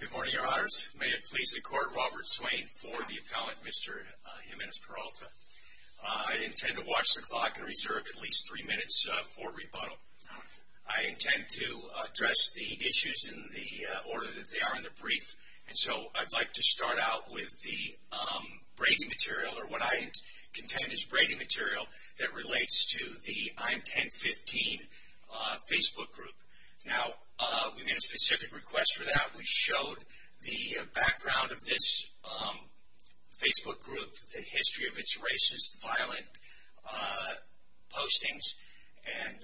Good morning, your honors. May it please the court, Robert Swain for the appellant, Mr. Jimenez-Peralta. I intend to watch the clock and reserve at least three minutes for rebuttal. I intend to address the issues in the order that they are in the brief, and so I'd like to start out with the breaking material, or what I contend is breaking material, that relates to the I'm 10-15 Facebook group. Now, we made a specific request for that. We showed the background of this Facebook group, the history of its racist, violent postings, and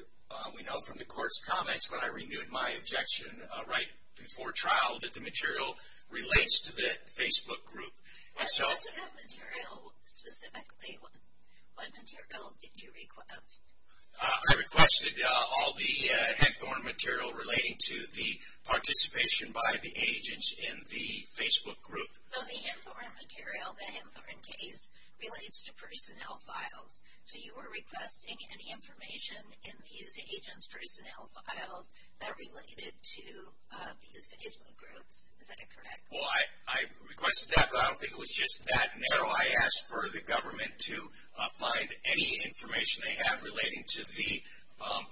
we know from the court's comments, but I renewed my objection right before trial, that the material relates to the Facebook group. And what is that material specifically? What material did you request? I requested all the Hempthorne material relating to the participation by the agents in the Facebook group. So the Hempthorne material, the Hempthorne case, relates to personnel files. So you were requesting any information in these agents' personnel files that related to these Facebook groups. Is that correct? Well, I requested that, but I don't think it was just that narrow. I asked for the government to find any information they have relating to the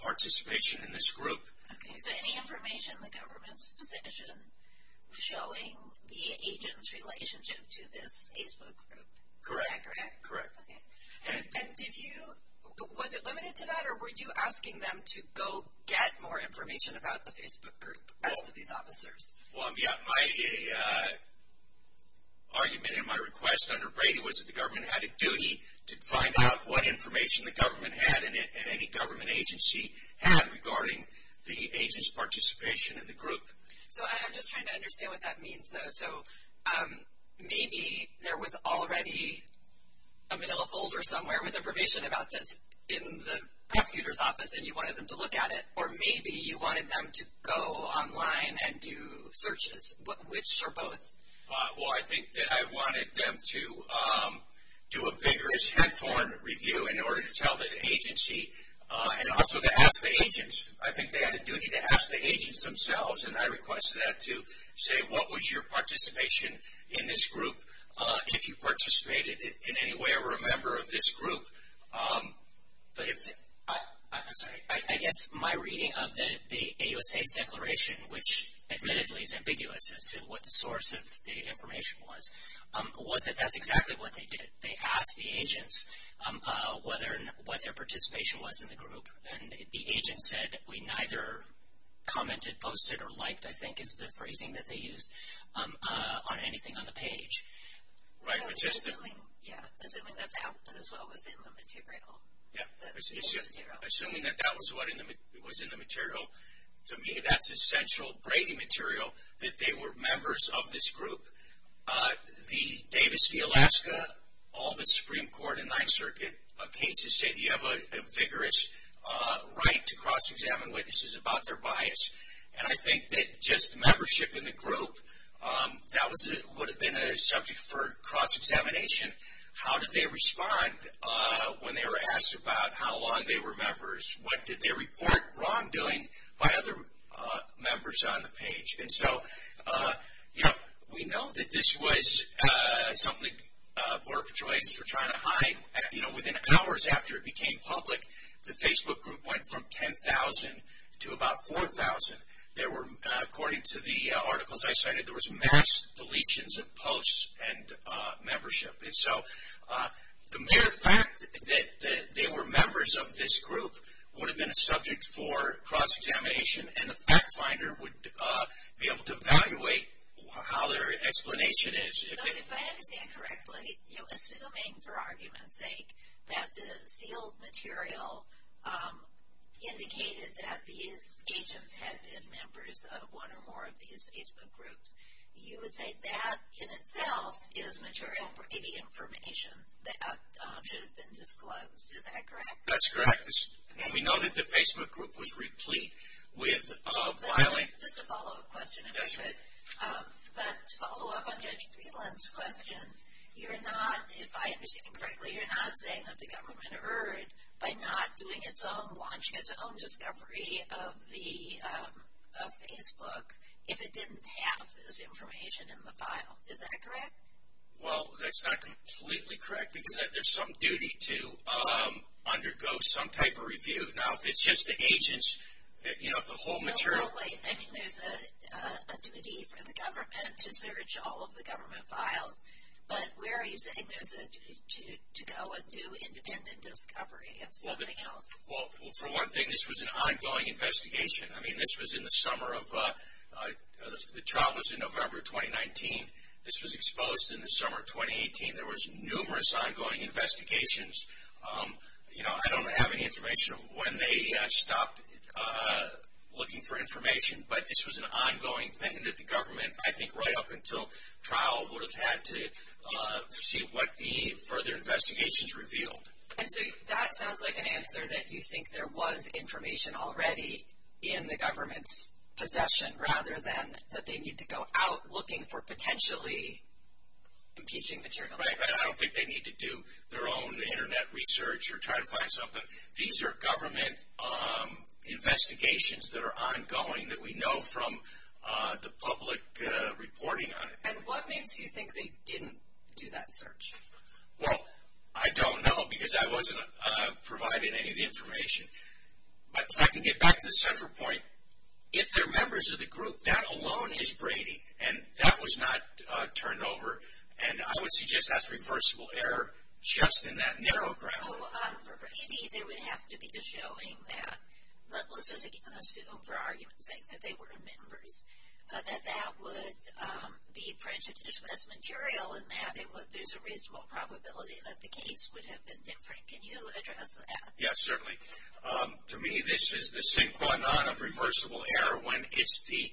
participation in this group. Okay, so any information in the government's position showing the agent's relationship to this Facebook group. Correct. Is that correct? Correct. Okay. And did you, was it limited to that, or were you asking them to go get more information about the Facebook group as to these officers? Well, yeah. My argument in my request under Brady was that the government had a duty to find out what information the government had and any government agency had regarding the agent's participation in the group. So I'm just trying to understand what that means, though. So maybe there was already a manila folder somewhere with information about this in the prosecutor's office, and you wanted them to look at it, or maybe you wanted them to go online and do searches. Which are both? Well, I think that I wanted them to do a vigorous headphone review in order to tell the agency, and also to ask the agents. I think they had a duty to ask the agents themselves, and I requested that to say what was your participation in this group, if you participated in any way or were a member of this group. I'm sorry. I guess my reading of the AUSA's declaration, which admittedly is ambiguous as to what the source of the information was, was that that's exactly what they did. They asked the agents what their participation was in the group, and the agents said, we neither commented, posted, or liked, I think is the phrasing that they used, on anything on the page. Yeah, assuming that that was what was in the material. Yeah, assuming that that was what was in the material. To me, that's essential brainy material, that they were members of this group. The Davis v. Alaska, all the Supreme Court and Ninth Circuit cases said, you have a vigorous right to cross-examine witnesses about their bias. I think that just membership in the group, that would have been a subject for cross-examination. How did they respond when they were asked about how long they were members? What did they report wrongdoing by other members on the page? We know that this was something Border Patrol agents were trying to hide. Within hours after it became public, the Facebook group went from 10,000 to about 4,000. According to the articles I cited, there was mass deletions of posts and membership. The mere fact that they were members of this group would have been a subject for cross-examination, and the fact finder would be able to evaluate how their explanation is. If I understand correctly, assuming, for argument's sake, that the sealed material indicated that these agents had been members of one or more of these Facebook groups, you would say that, in itself, is material brainy information that should have been disclosed. Is that correct? That's correct. We know that the Facebook group was replete with violent... To follow up on Judge Friedland's question, you're not, if I understand correctly, you're not saying that the government erred by not doing its own, launching its own discovery of Facebook if it didn't have this information in the file. Is that correct? Well, that's not completely correct, because there's some duty to undergo some type of review. Now, if it's just the agents, if the whole material... No, wait. I mean, there's a duty for the government to search all of the government files, but where are you saying there's a duty to go and do independent discovery of something else? Well, for one thing, this was an ongoing investigation. I mean, this was in the summer of... The trial was in November of 2019. This was exposed in the summer of 2018. There was numerous ongoing investigations. You know, I don't have any information of when they stopped looking for information, but this was an ongoing thing that the government, I think, right up until trial would have had to see what the further investigations revealed. And so that sounds like an answer that you think there was information already in the government's possession rather than that they need to go out looking for potentially impeaching material. I don't think they need to do their own Internet research or try to find something. These are government investigations that are ongoing that we know from the public reporting on it. And what makes you think they didn't do that search? Well, I don't know, because I wasn't provided any of the information. But if I can get back to the central point, if they're members of the group, that alone is Brady, and that was not turned over. And I would suggest that's reversible error just in that narrow ground. So for Brady, there would have to be the showing that, let's assume for argument's sake that they were members, that that would be prejudiced as material and that there's a reasonable probability that the case would have been different. Can you address that? Yes, certainly. To me, this is the synchronon of reversible error. When it's the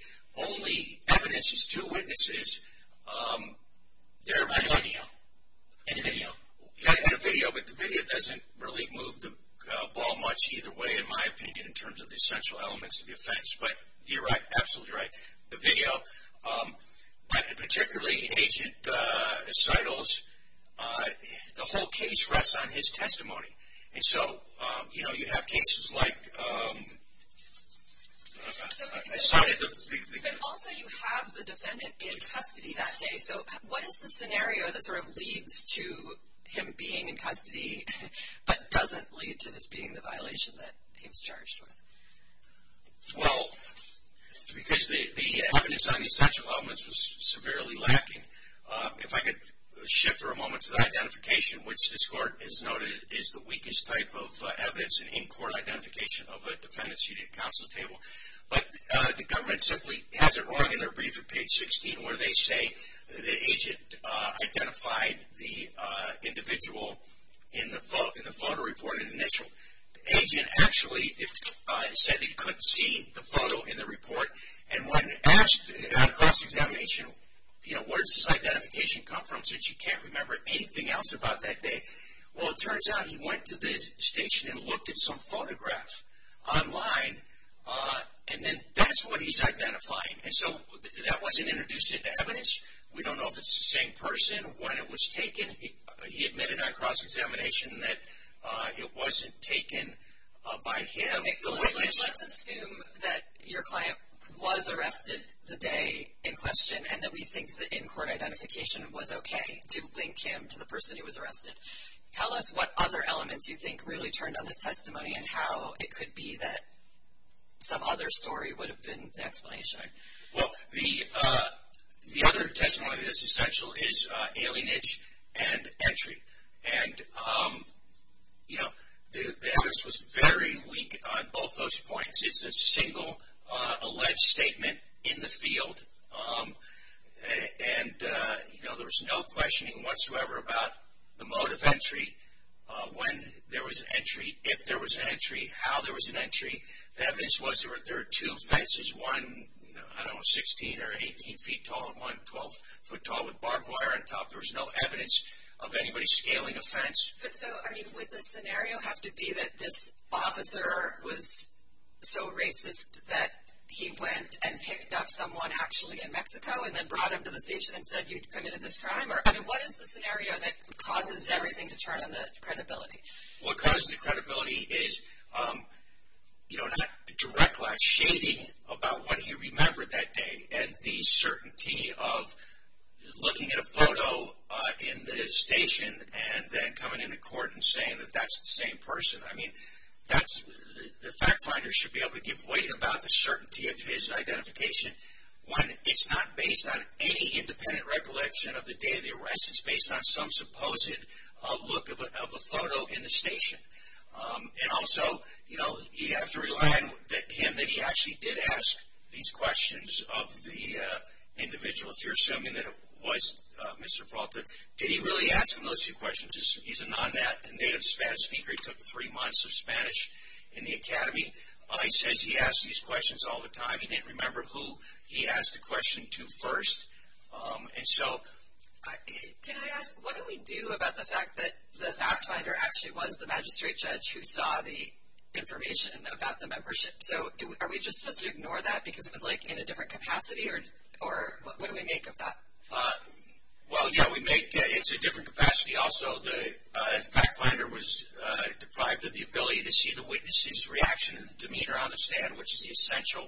only evidence, it's two witnesses. And a video. And a video. And a video, but the video doesn't really move the ball much either way, in my opinion, in terms of the essential elements of the offense. But you're absolutely right. The video, particularly Agent Seidel's, the whole case rests on his testimony. And so, you know, you have cases like... Also, you have the defendant in custody that day. So what is the scenario that sort of leads to him being in custody but doesn't lead to this being the violation that he was charged with? Well, because the evidence on the essential elements was severely lacking. If I could shift for a moment to the identification, which this court has noted is the weakest type of evidence in in-court identification of a defendant's unit counsel table. But the government simply has it wrong in their brief at page 16, where they say the agent identified the individual in the photo reported initial. The agent actually said that he couldn't see the photo in the report. And when asked on cross-examination, you know, where does this identification come from since you can't remember anything else about that day? Well, it turns out he went to the station and looked at some photographs online, and then that's what he's identifying. And so that wasn't introduced into evidence. We don't know if it's the same person, when it was taken. He admitted on cross-examination that it wasn't taken by him. Let's assume that your client was arrested the day in question and that we think the in-court identification was okay to link him to the person who was arrested. Tell us what other elements you think really turned on this testimony and how it could be that some other story would have been the explanation. Well, the other testimony that's essential is alienage and entry. And, you know, the evidence was very weak on both those points. It's a single alleged statement in the field. And, you know, there was no questioning whatsoever about the mode of entry, when there was an entry, if there was an entry, how there was an entry. The evidence was there were two fences, one, I don't know, 16 or 18 feet tall and one 12 foot tall with barbed wire on top. There was no evidence of anybody scaling a fence. But, so, I mean, would the scenario have to be that this officer was so racist that he went and picked up someone actually in Mexico and then brought him to the station and said, you've committed this crime? I mean, what is the scenario that causes everything to turn on the credibility? What causes the credibility is, you know, not direct line shading about what he remembered that day and the certainty of looking at a photo in the station and then coming into court and saying that that's the same person. I mean, the fact finder should be able to give weight about the certainty of his identification when it's not based on any independent recollection of the day of the arrest. It's based on some supposed look of a photo in the station. And also, you know, you have to rely on him that he actually did ask these questions of the individual, if you're assuming that it was Mr. Peralta. Did he really ask him those two questions? He's a non-native Spanish speaker. He took three months of Spanish in the academy. He says he asks these questions all the time. He didn't remember who he asked the question to first. And so... Can I ask, what do we do about the fact that the fact finder actually was the magistrate judge who saw the information about the membership? So are we just supposed to ignore that because it was, like, in a different capacity? Or what do we make of that? Well, yeah, we make it's a different capacity also. The fact finder was deprived of the ability to see the witness's reaction and demeanor on the stand, which is the essential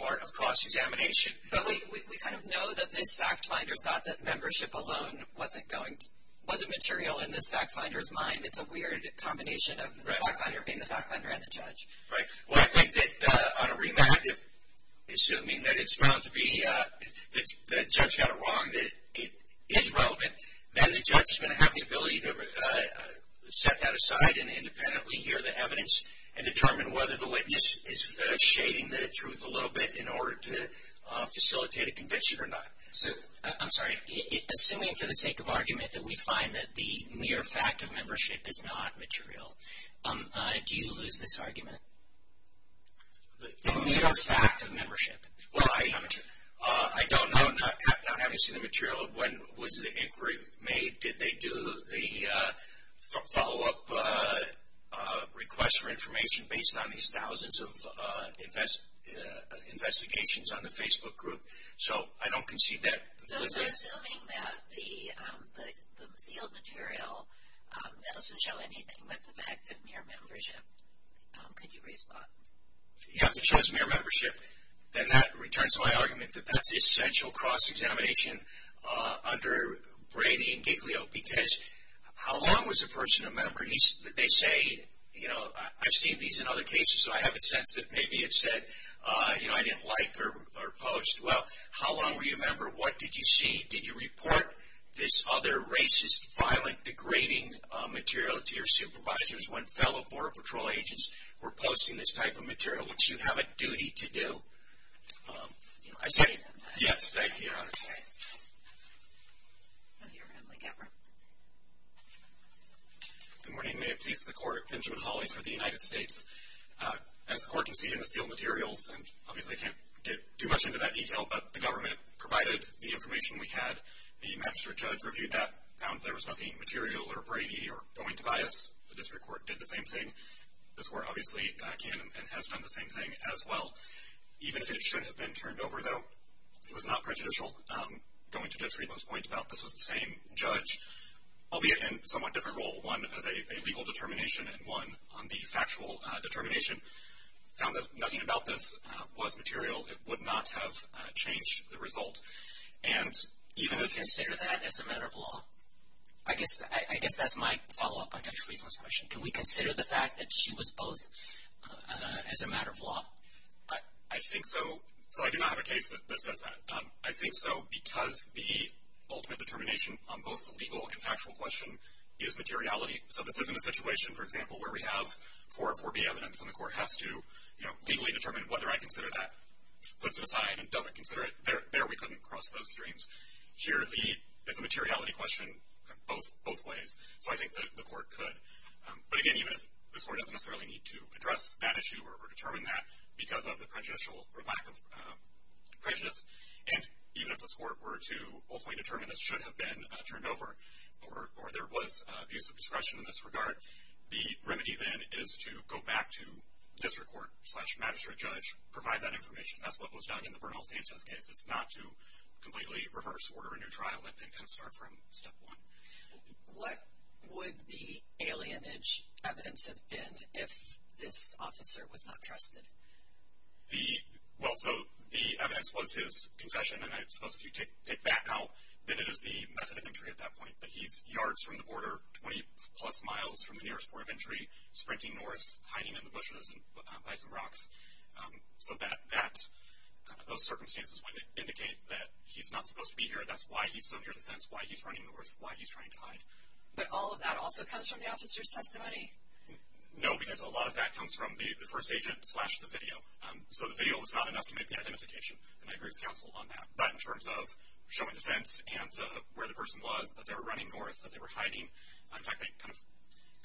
part of cross-examination. But we kind of know that this fact finder thought that membership alone wasn't material in this fact finder's mind. It's a weird combination of the fact finder being the fact finder and the judge. Right. Well, I think that on a remand, assuming that it's found to be that the judge got it wrong, that it is relevant, then the judge is going to have the ability to set that aside and independently hear the evidence and determine whether the witness is shading the truth a little bit in order to facilitate a conviction or not. I'm sorry. Assuming for the sake of argument that we find that the mere fact of membership is not material, do you lose this argument? The mere fact of membership is not material. Well, I don't know. Not having seen the material, when was the inquiry made? Did they do the follow-up request for information based on these thousands of investigations on the Facebook group? So I don't concede that. So assuming that the sealed material doesn't show anything but the fact of mere membership, could you respond? If it shows mere membership, then that returns to my argument that that's essential cross-examination. Under Brady and Giglio, because how long was a person a member? They say, you know, I've seen these in other cases, so I have a sense that maybe it said, you know, I didn't like their post. Well, how long were you a member? What did you see? Did you report this other racist, violent, degrading material to your supervisors when fellow Border Patrol agents were posting this type of material? Which you have a duty to do. I see. Yes, thank you. Good morning. May it please the Court. Benjamin Hawley for the United States. As the Court conceded in the sealed materials, and obviously I can't get too much into that detail, but the government provided the information we had. The magistrate judge reviewed that, found there was nothing material or Brady or going to bias. The district court did the same thing. The district court obviously can and has done the same thing as well. Even if it should have been turned over, though, it was not prejudicial. Going to Judge Friedland's point about this was the same judge, albeit in a somewhat different role, one as a legal determination and one on the factual determination. Found that nothing about this was material. It would not have changed the result. Even if you consider that as a matter of law. I guess that's my follow-up on Judge Friedland's question. Can we consider the fact that she was both as a matter of law? I think so. So I do not have a case that says that. I think so because the ultimate determination on both the legal and factual question is materiality. So this isn't a situation, for example, where we have 404B evidence, and the Court has to legally determine whether I consider that, puts it aside, and doesn't consider it. There we couldn't cross those streams. Here is a materiality question both ways. So I think the Court could. But, again, even if this Court doesn't necessarily need to address that issue or determine that because of the prejudicial or lack of prejudice, and even if this Court were to ultimately determine this should have been turned over or there was abuse of discretion in this regard, the remedy then is to go back to district court slash magistrate judge, provide that information. That's what was done in the Bernal-Sanchez case. It's not to completely reverse order a new trial and kind of start from step one. What would the alienage evidence have been if this officer was not trusted? Well, so the evidence was his confession, and I suppose if you take that out, then it is the method of entry at that point. But he's yards from the border, 20-plus miles from the nearest point of entry, sprinting north, hiding in the bushes and by some rocks. So those circumstances would indicate that he's not supposed to be here. That's why he's so near the fence, why he's running north, why he's trying to hide. But all of that also comes from the officer's testimony? No, because a lot of that comes from the first agent slash the video. So the video was not enough to make the identification, and I agree with counsel on that. But in terms of showing the fence and where the person was, that they were running north, that they were hiding, in fact, they kind of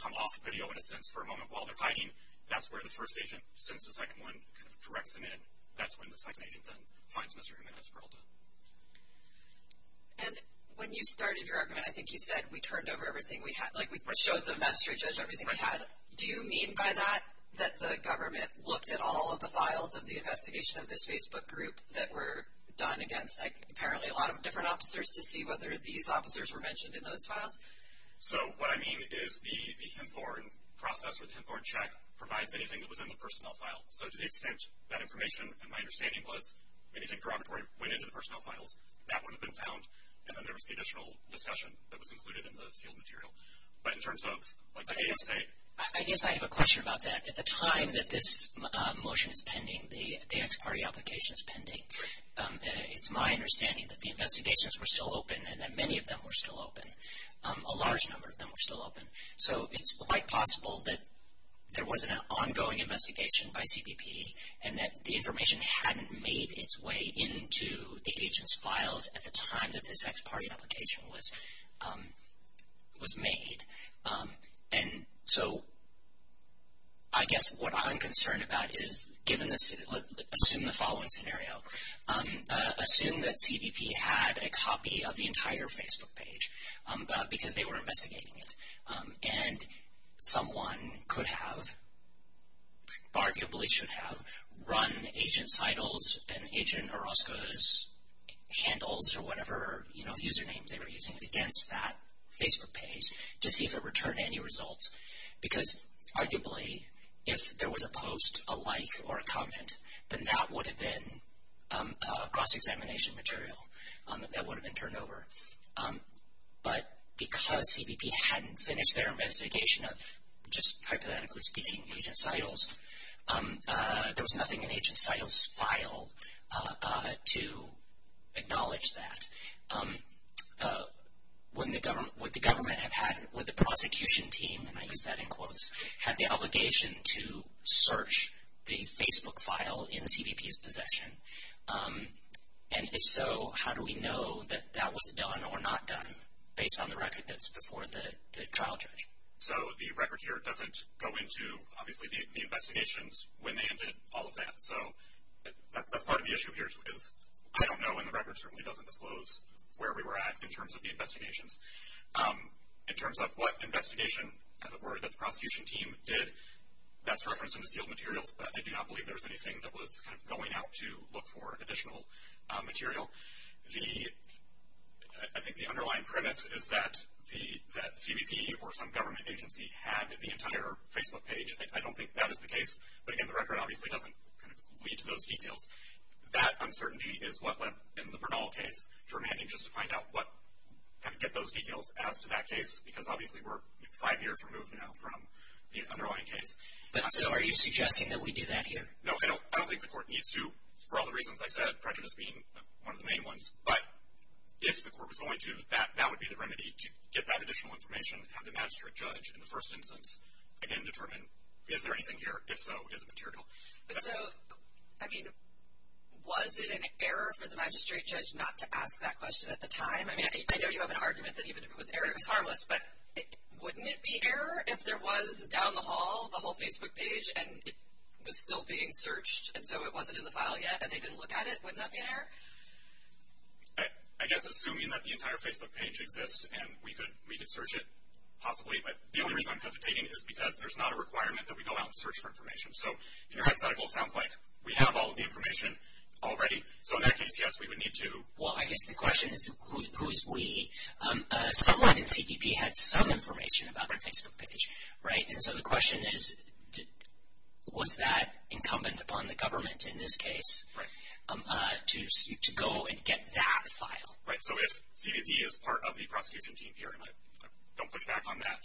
come off video in a sense for a moment while they're hiding. That's where the first agent, since the second one, kind of directs them in. That's when the second agent then finds Mr. Jimenez-Peralta. And when you started your argument, I think you said we turned over everything we had, like we showed the magistrate judge everything we had. Do you mean by that that the government looked at all of the files of the investigation of this Facebook group that were done against apparently a lot of different officers to see whether these officers were mentioned in those files? So what I mean is the Hymthorne process or the Hymthorne check provides anything that was in the personnel file. So to the extent that information, and my understanding was, anything derogatory went into the personnel files, that would have been found, and then there was the additional discussion that was included in the sealed material. But in terms of, like the ASA. I guess I have a question about that. At the time that this motion is pending, the ex parte application is pending, it's my understanding that the investigations were still open and that many of them were still open. A large number of them were still open. So it's quite possible that there was an ongoing investigation by CBP and that the information hadn't made its way into the agent's files at the time that this ex parte application was made. And so I guess what I'm concerned about is, assume the following scenario. Assume that CBP had a copy of the entire Facebook page, because they were investigating it. And someone could have, arguably should have, run agent's titles and agent Orozco's handles or whatever, you know, usernames they were using against that Facebook page to see if it returned any results. Because arguably, if there was a post, a like, or a comment, then that would have been cross-examination material that would have been turned over. But because CBP hadn't finished their investigation of, just hypothetically speaking, agent's titles, there was nothing in agent's titles file to acknowledge that. Would the government have had, would the prosecution team, and I use that in quotes, had the obligation to search the Facebook file in CBP's possession? And if so, how do we know that that was done or not done, based on the record that's before the trial judge? So the record here doesn't go into, obviously, the investigations, when they ended, all of that. So that's part of the issue here, is I don't know, and the record certainly doesn't disclose where we were at in terms of the investigations. In terms of what investigation, as it were, that the prosecution team did, that's referenced in the sealed materials, but I do not believe there was anything that was kind of going out to look for additional material. I think the underlying premise is that CBP or some government agency had the entire Facebook page. I don't think that is the case, but again, the record obviously doesn't kind of lead to those details. That uncertainty is what led, in the Bernal case, to remanding, just to find out what, kind of get those details as to that case, because obviously we're five years removed now from the underlying case. So are you suggesting that we do that here? No, I don't think the court needs to, for all the reasons I said, prejudice being one of the main ones, but if the court was going to, that would be the remedy, to get that additional information, have the magistrate judge, in the first instance, again, determine, is there anything here? If so, is it material? But so, I mean, was it an error for the magistrate judge not to ask that question at the time? I mean, I know you have an argument that even if it was error, it was harmless, but wouldn't it be error if there was, down the hall, the whole Facebook page, and it was still being searched, and so it wasn't in the file yet, and they didn't look at it? Wouldn't that be an error? I guess assuming that the entire Facebook page exists, and we could search it, possibly, but the only reason I'm hesitating is because there's not a requirement that we go out and search for information. So in your head's eye, it will sound like we have all of the information already. So in that case, yes, we would need to. Well, I guess the question is, who is we? Someone in CBP had some information about the Facebook page, right? And so the question is, was that incumbent upon the government in this case to go and get that file? Right. So if CBP is part of the prosecution team here, and I don't push back on that,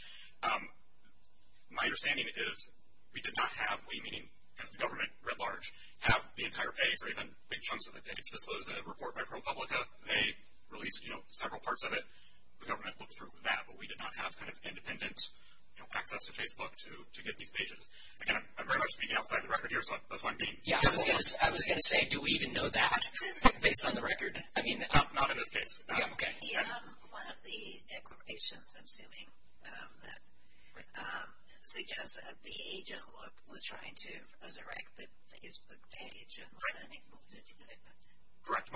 my understanding is we did not have, we meaning the government writ large, have the entire page, or even big chunks of the page. This was a report by ProPublica. They released, you know, several parts of it. The government looked through that, but we did not have kind of independent, you know, access to Facebook to get these pages. Again, I'm very much speaking outside the record here, so that's why I'm being. Yeah, I was going to say, do we even know that based on the record? I mean. Not in this case. Okay. One of the declarations, I'm assuming, suggests that the agent was trying to resurrect the Facebook page and wasn't able to do it. Correct.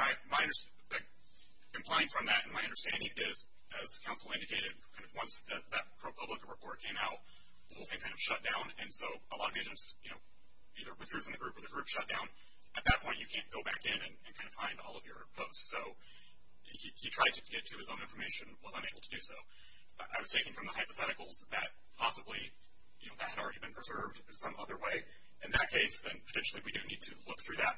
Implying from that, my understanding is, as counsel indicated, once that ProPublica report came out, the whole thing kind of shut down, and so a lot of agents, you know, either withdrew from the group or the group shut down. At that point, you can't go back in and kind of find all of your posts. So he tried to get to his own information, was unable to do so. I was thinking from the hypotheticals that possibly, you know, that had already been preserved some other way. In that case, then potentially we do need to look through that.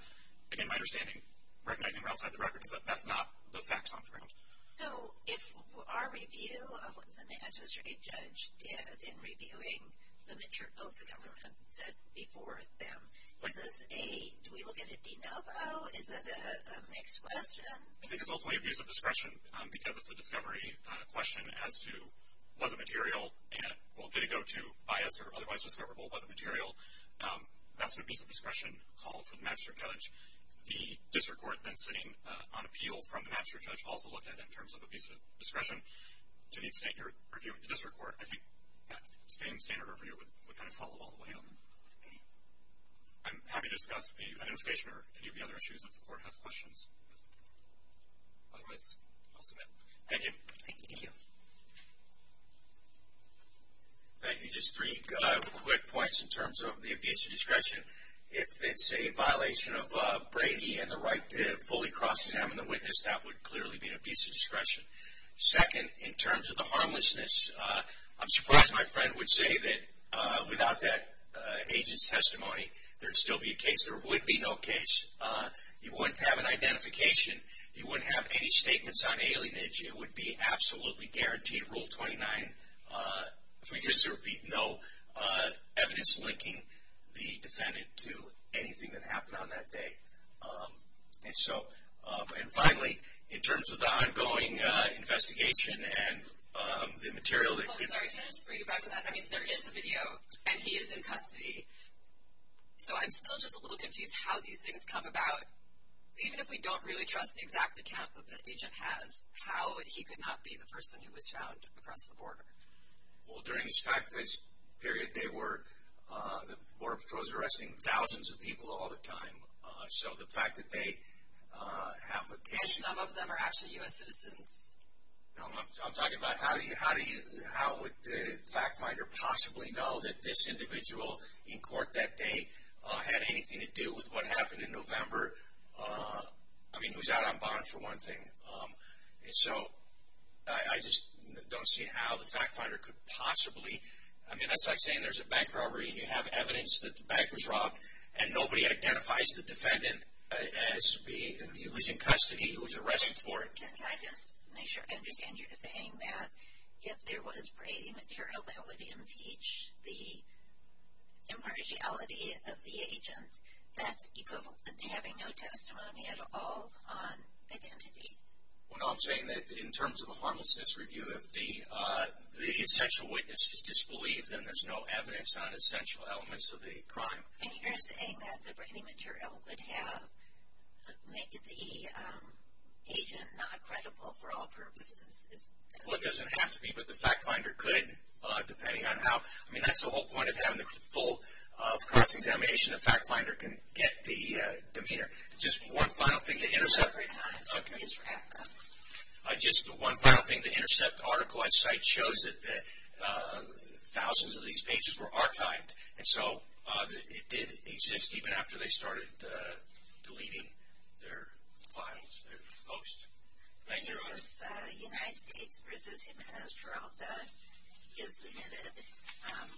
Again, my understanding, recognizing we're outside the record, is that that's not the facts on the ground. So if our review of what the magistrate judge did in reviewing the materials the government said before them, is this a, do we look at it de novo? Is it a mixed question? I think it's ultimately a piece of discretion because it's a discovery question as to, was it material? And, well, did it go to bias or otherwise discoverable? Was it material? That's an abuse of discretion call for the magistrate judge. The district court, then, sitting on appeal from the magistrate judge, also looked at it in terms of abuse of discretion. To the extent you're reviewing the district court, I think that same standard review would kind of follow all the way on. I'm happy to discuss the identification or any of the other issues if the court has questions. Otherwise, I'll submit. Thank you. Thank you. Thank you. Just three quick points in terms of the abuse of discretion. If it's a violation of Brady and the right to fully cross examine the witness, that would clearly be an abuse of discretion. Second, in terms of the harmlessness, I'm surprised my friend would say that without that agent's testimony, there'd still be a case. There would be no case. You wouldn't have an identification. You wouldn't have any statements on alienage. It would be absolutely guaranteed Rule 29. If we just repeat, no evidence linking the defendant to anything that happened on that day. And so, and finally, in terms of the ongoing investigation and the material that Well, sorry, can I just bring you back to that? I mean, there is a video, and he is in custody. So, I'm still just a little confused how these things come about. Even if we don't really trust the exact account that the agent has, how he could not be the person who was found across the border. Well, during this time period, the Border Patrol is arresting thousands of people all the time. So, the fact that they have a case. And some of them are actually U.S. citizens. No, I'm talking about how would the fact finder possibly know that this individual in court that day had anything to do with what happened in November. I mean, he was out on bond for one thing. And so, I just don't see how the fact finder could possibly. I mean, that's like saying there's a bank robbery. And you have evidence that the bank was robbed. And nobody identifies the defendant as being, who is in custody, who was arrested for it. Can I just make sure I understand you saying that if there was Brady material that would impeach the impartiality of the agent. That's equivalent to having no testimony at all on identity. Well, no, I'm saying that in terms of the harmlessness review, if the essential witness is disbelieved, then there's no evidence on essential elements of the crime. And you're saying that the Brady material would have made the agent not credible for all purposes. Well, it doesn't have to be, but the fact finder could, depending on how. I mean, that's the whole point of having the full cross-examination. The fact finder can get the demeanor. Just one final thing to intercept. Just one final thing. The intercept article I cite shows that thousands of these pages were archived. And so it did exist even after they started deleting their files, their posts. Thank you, Your Honor. The case of United States v. Jimenez-Geralda is submitted.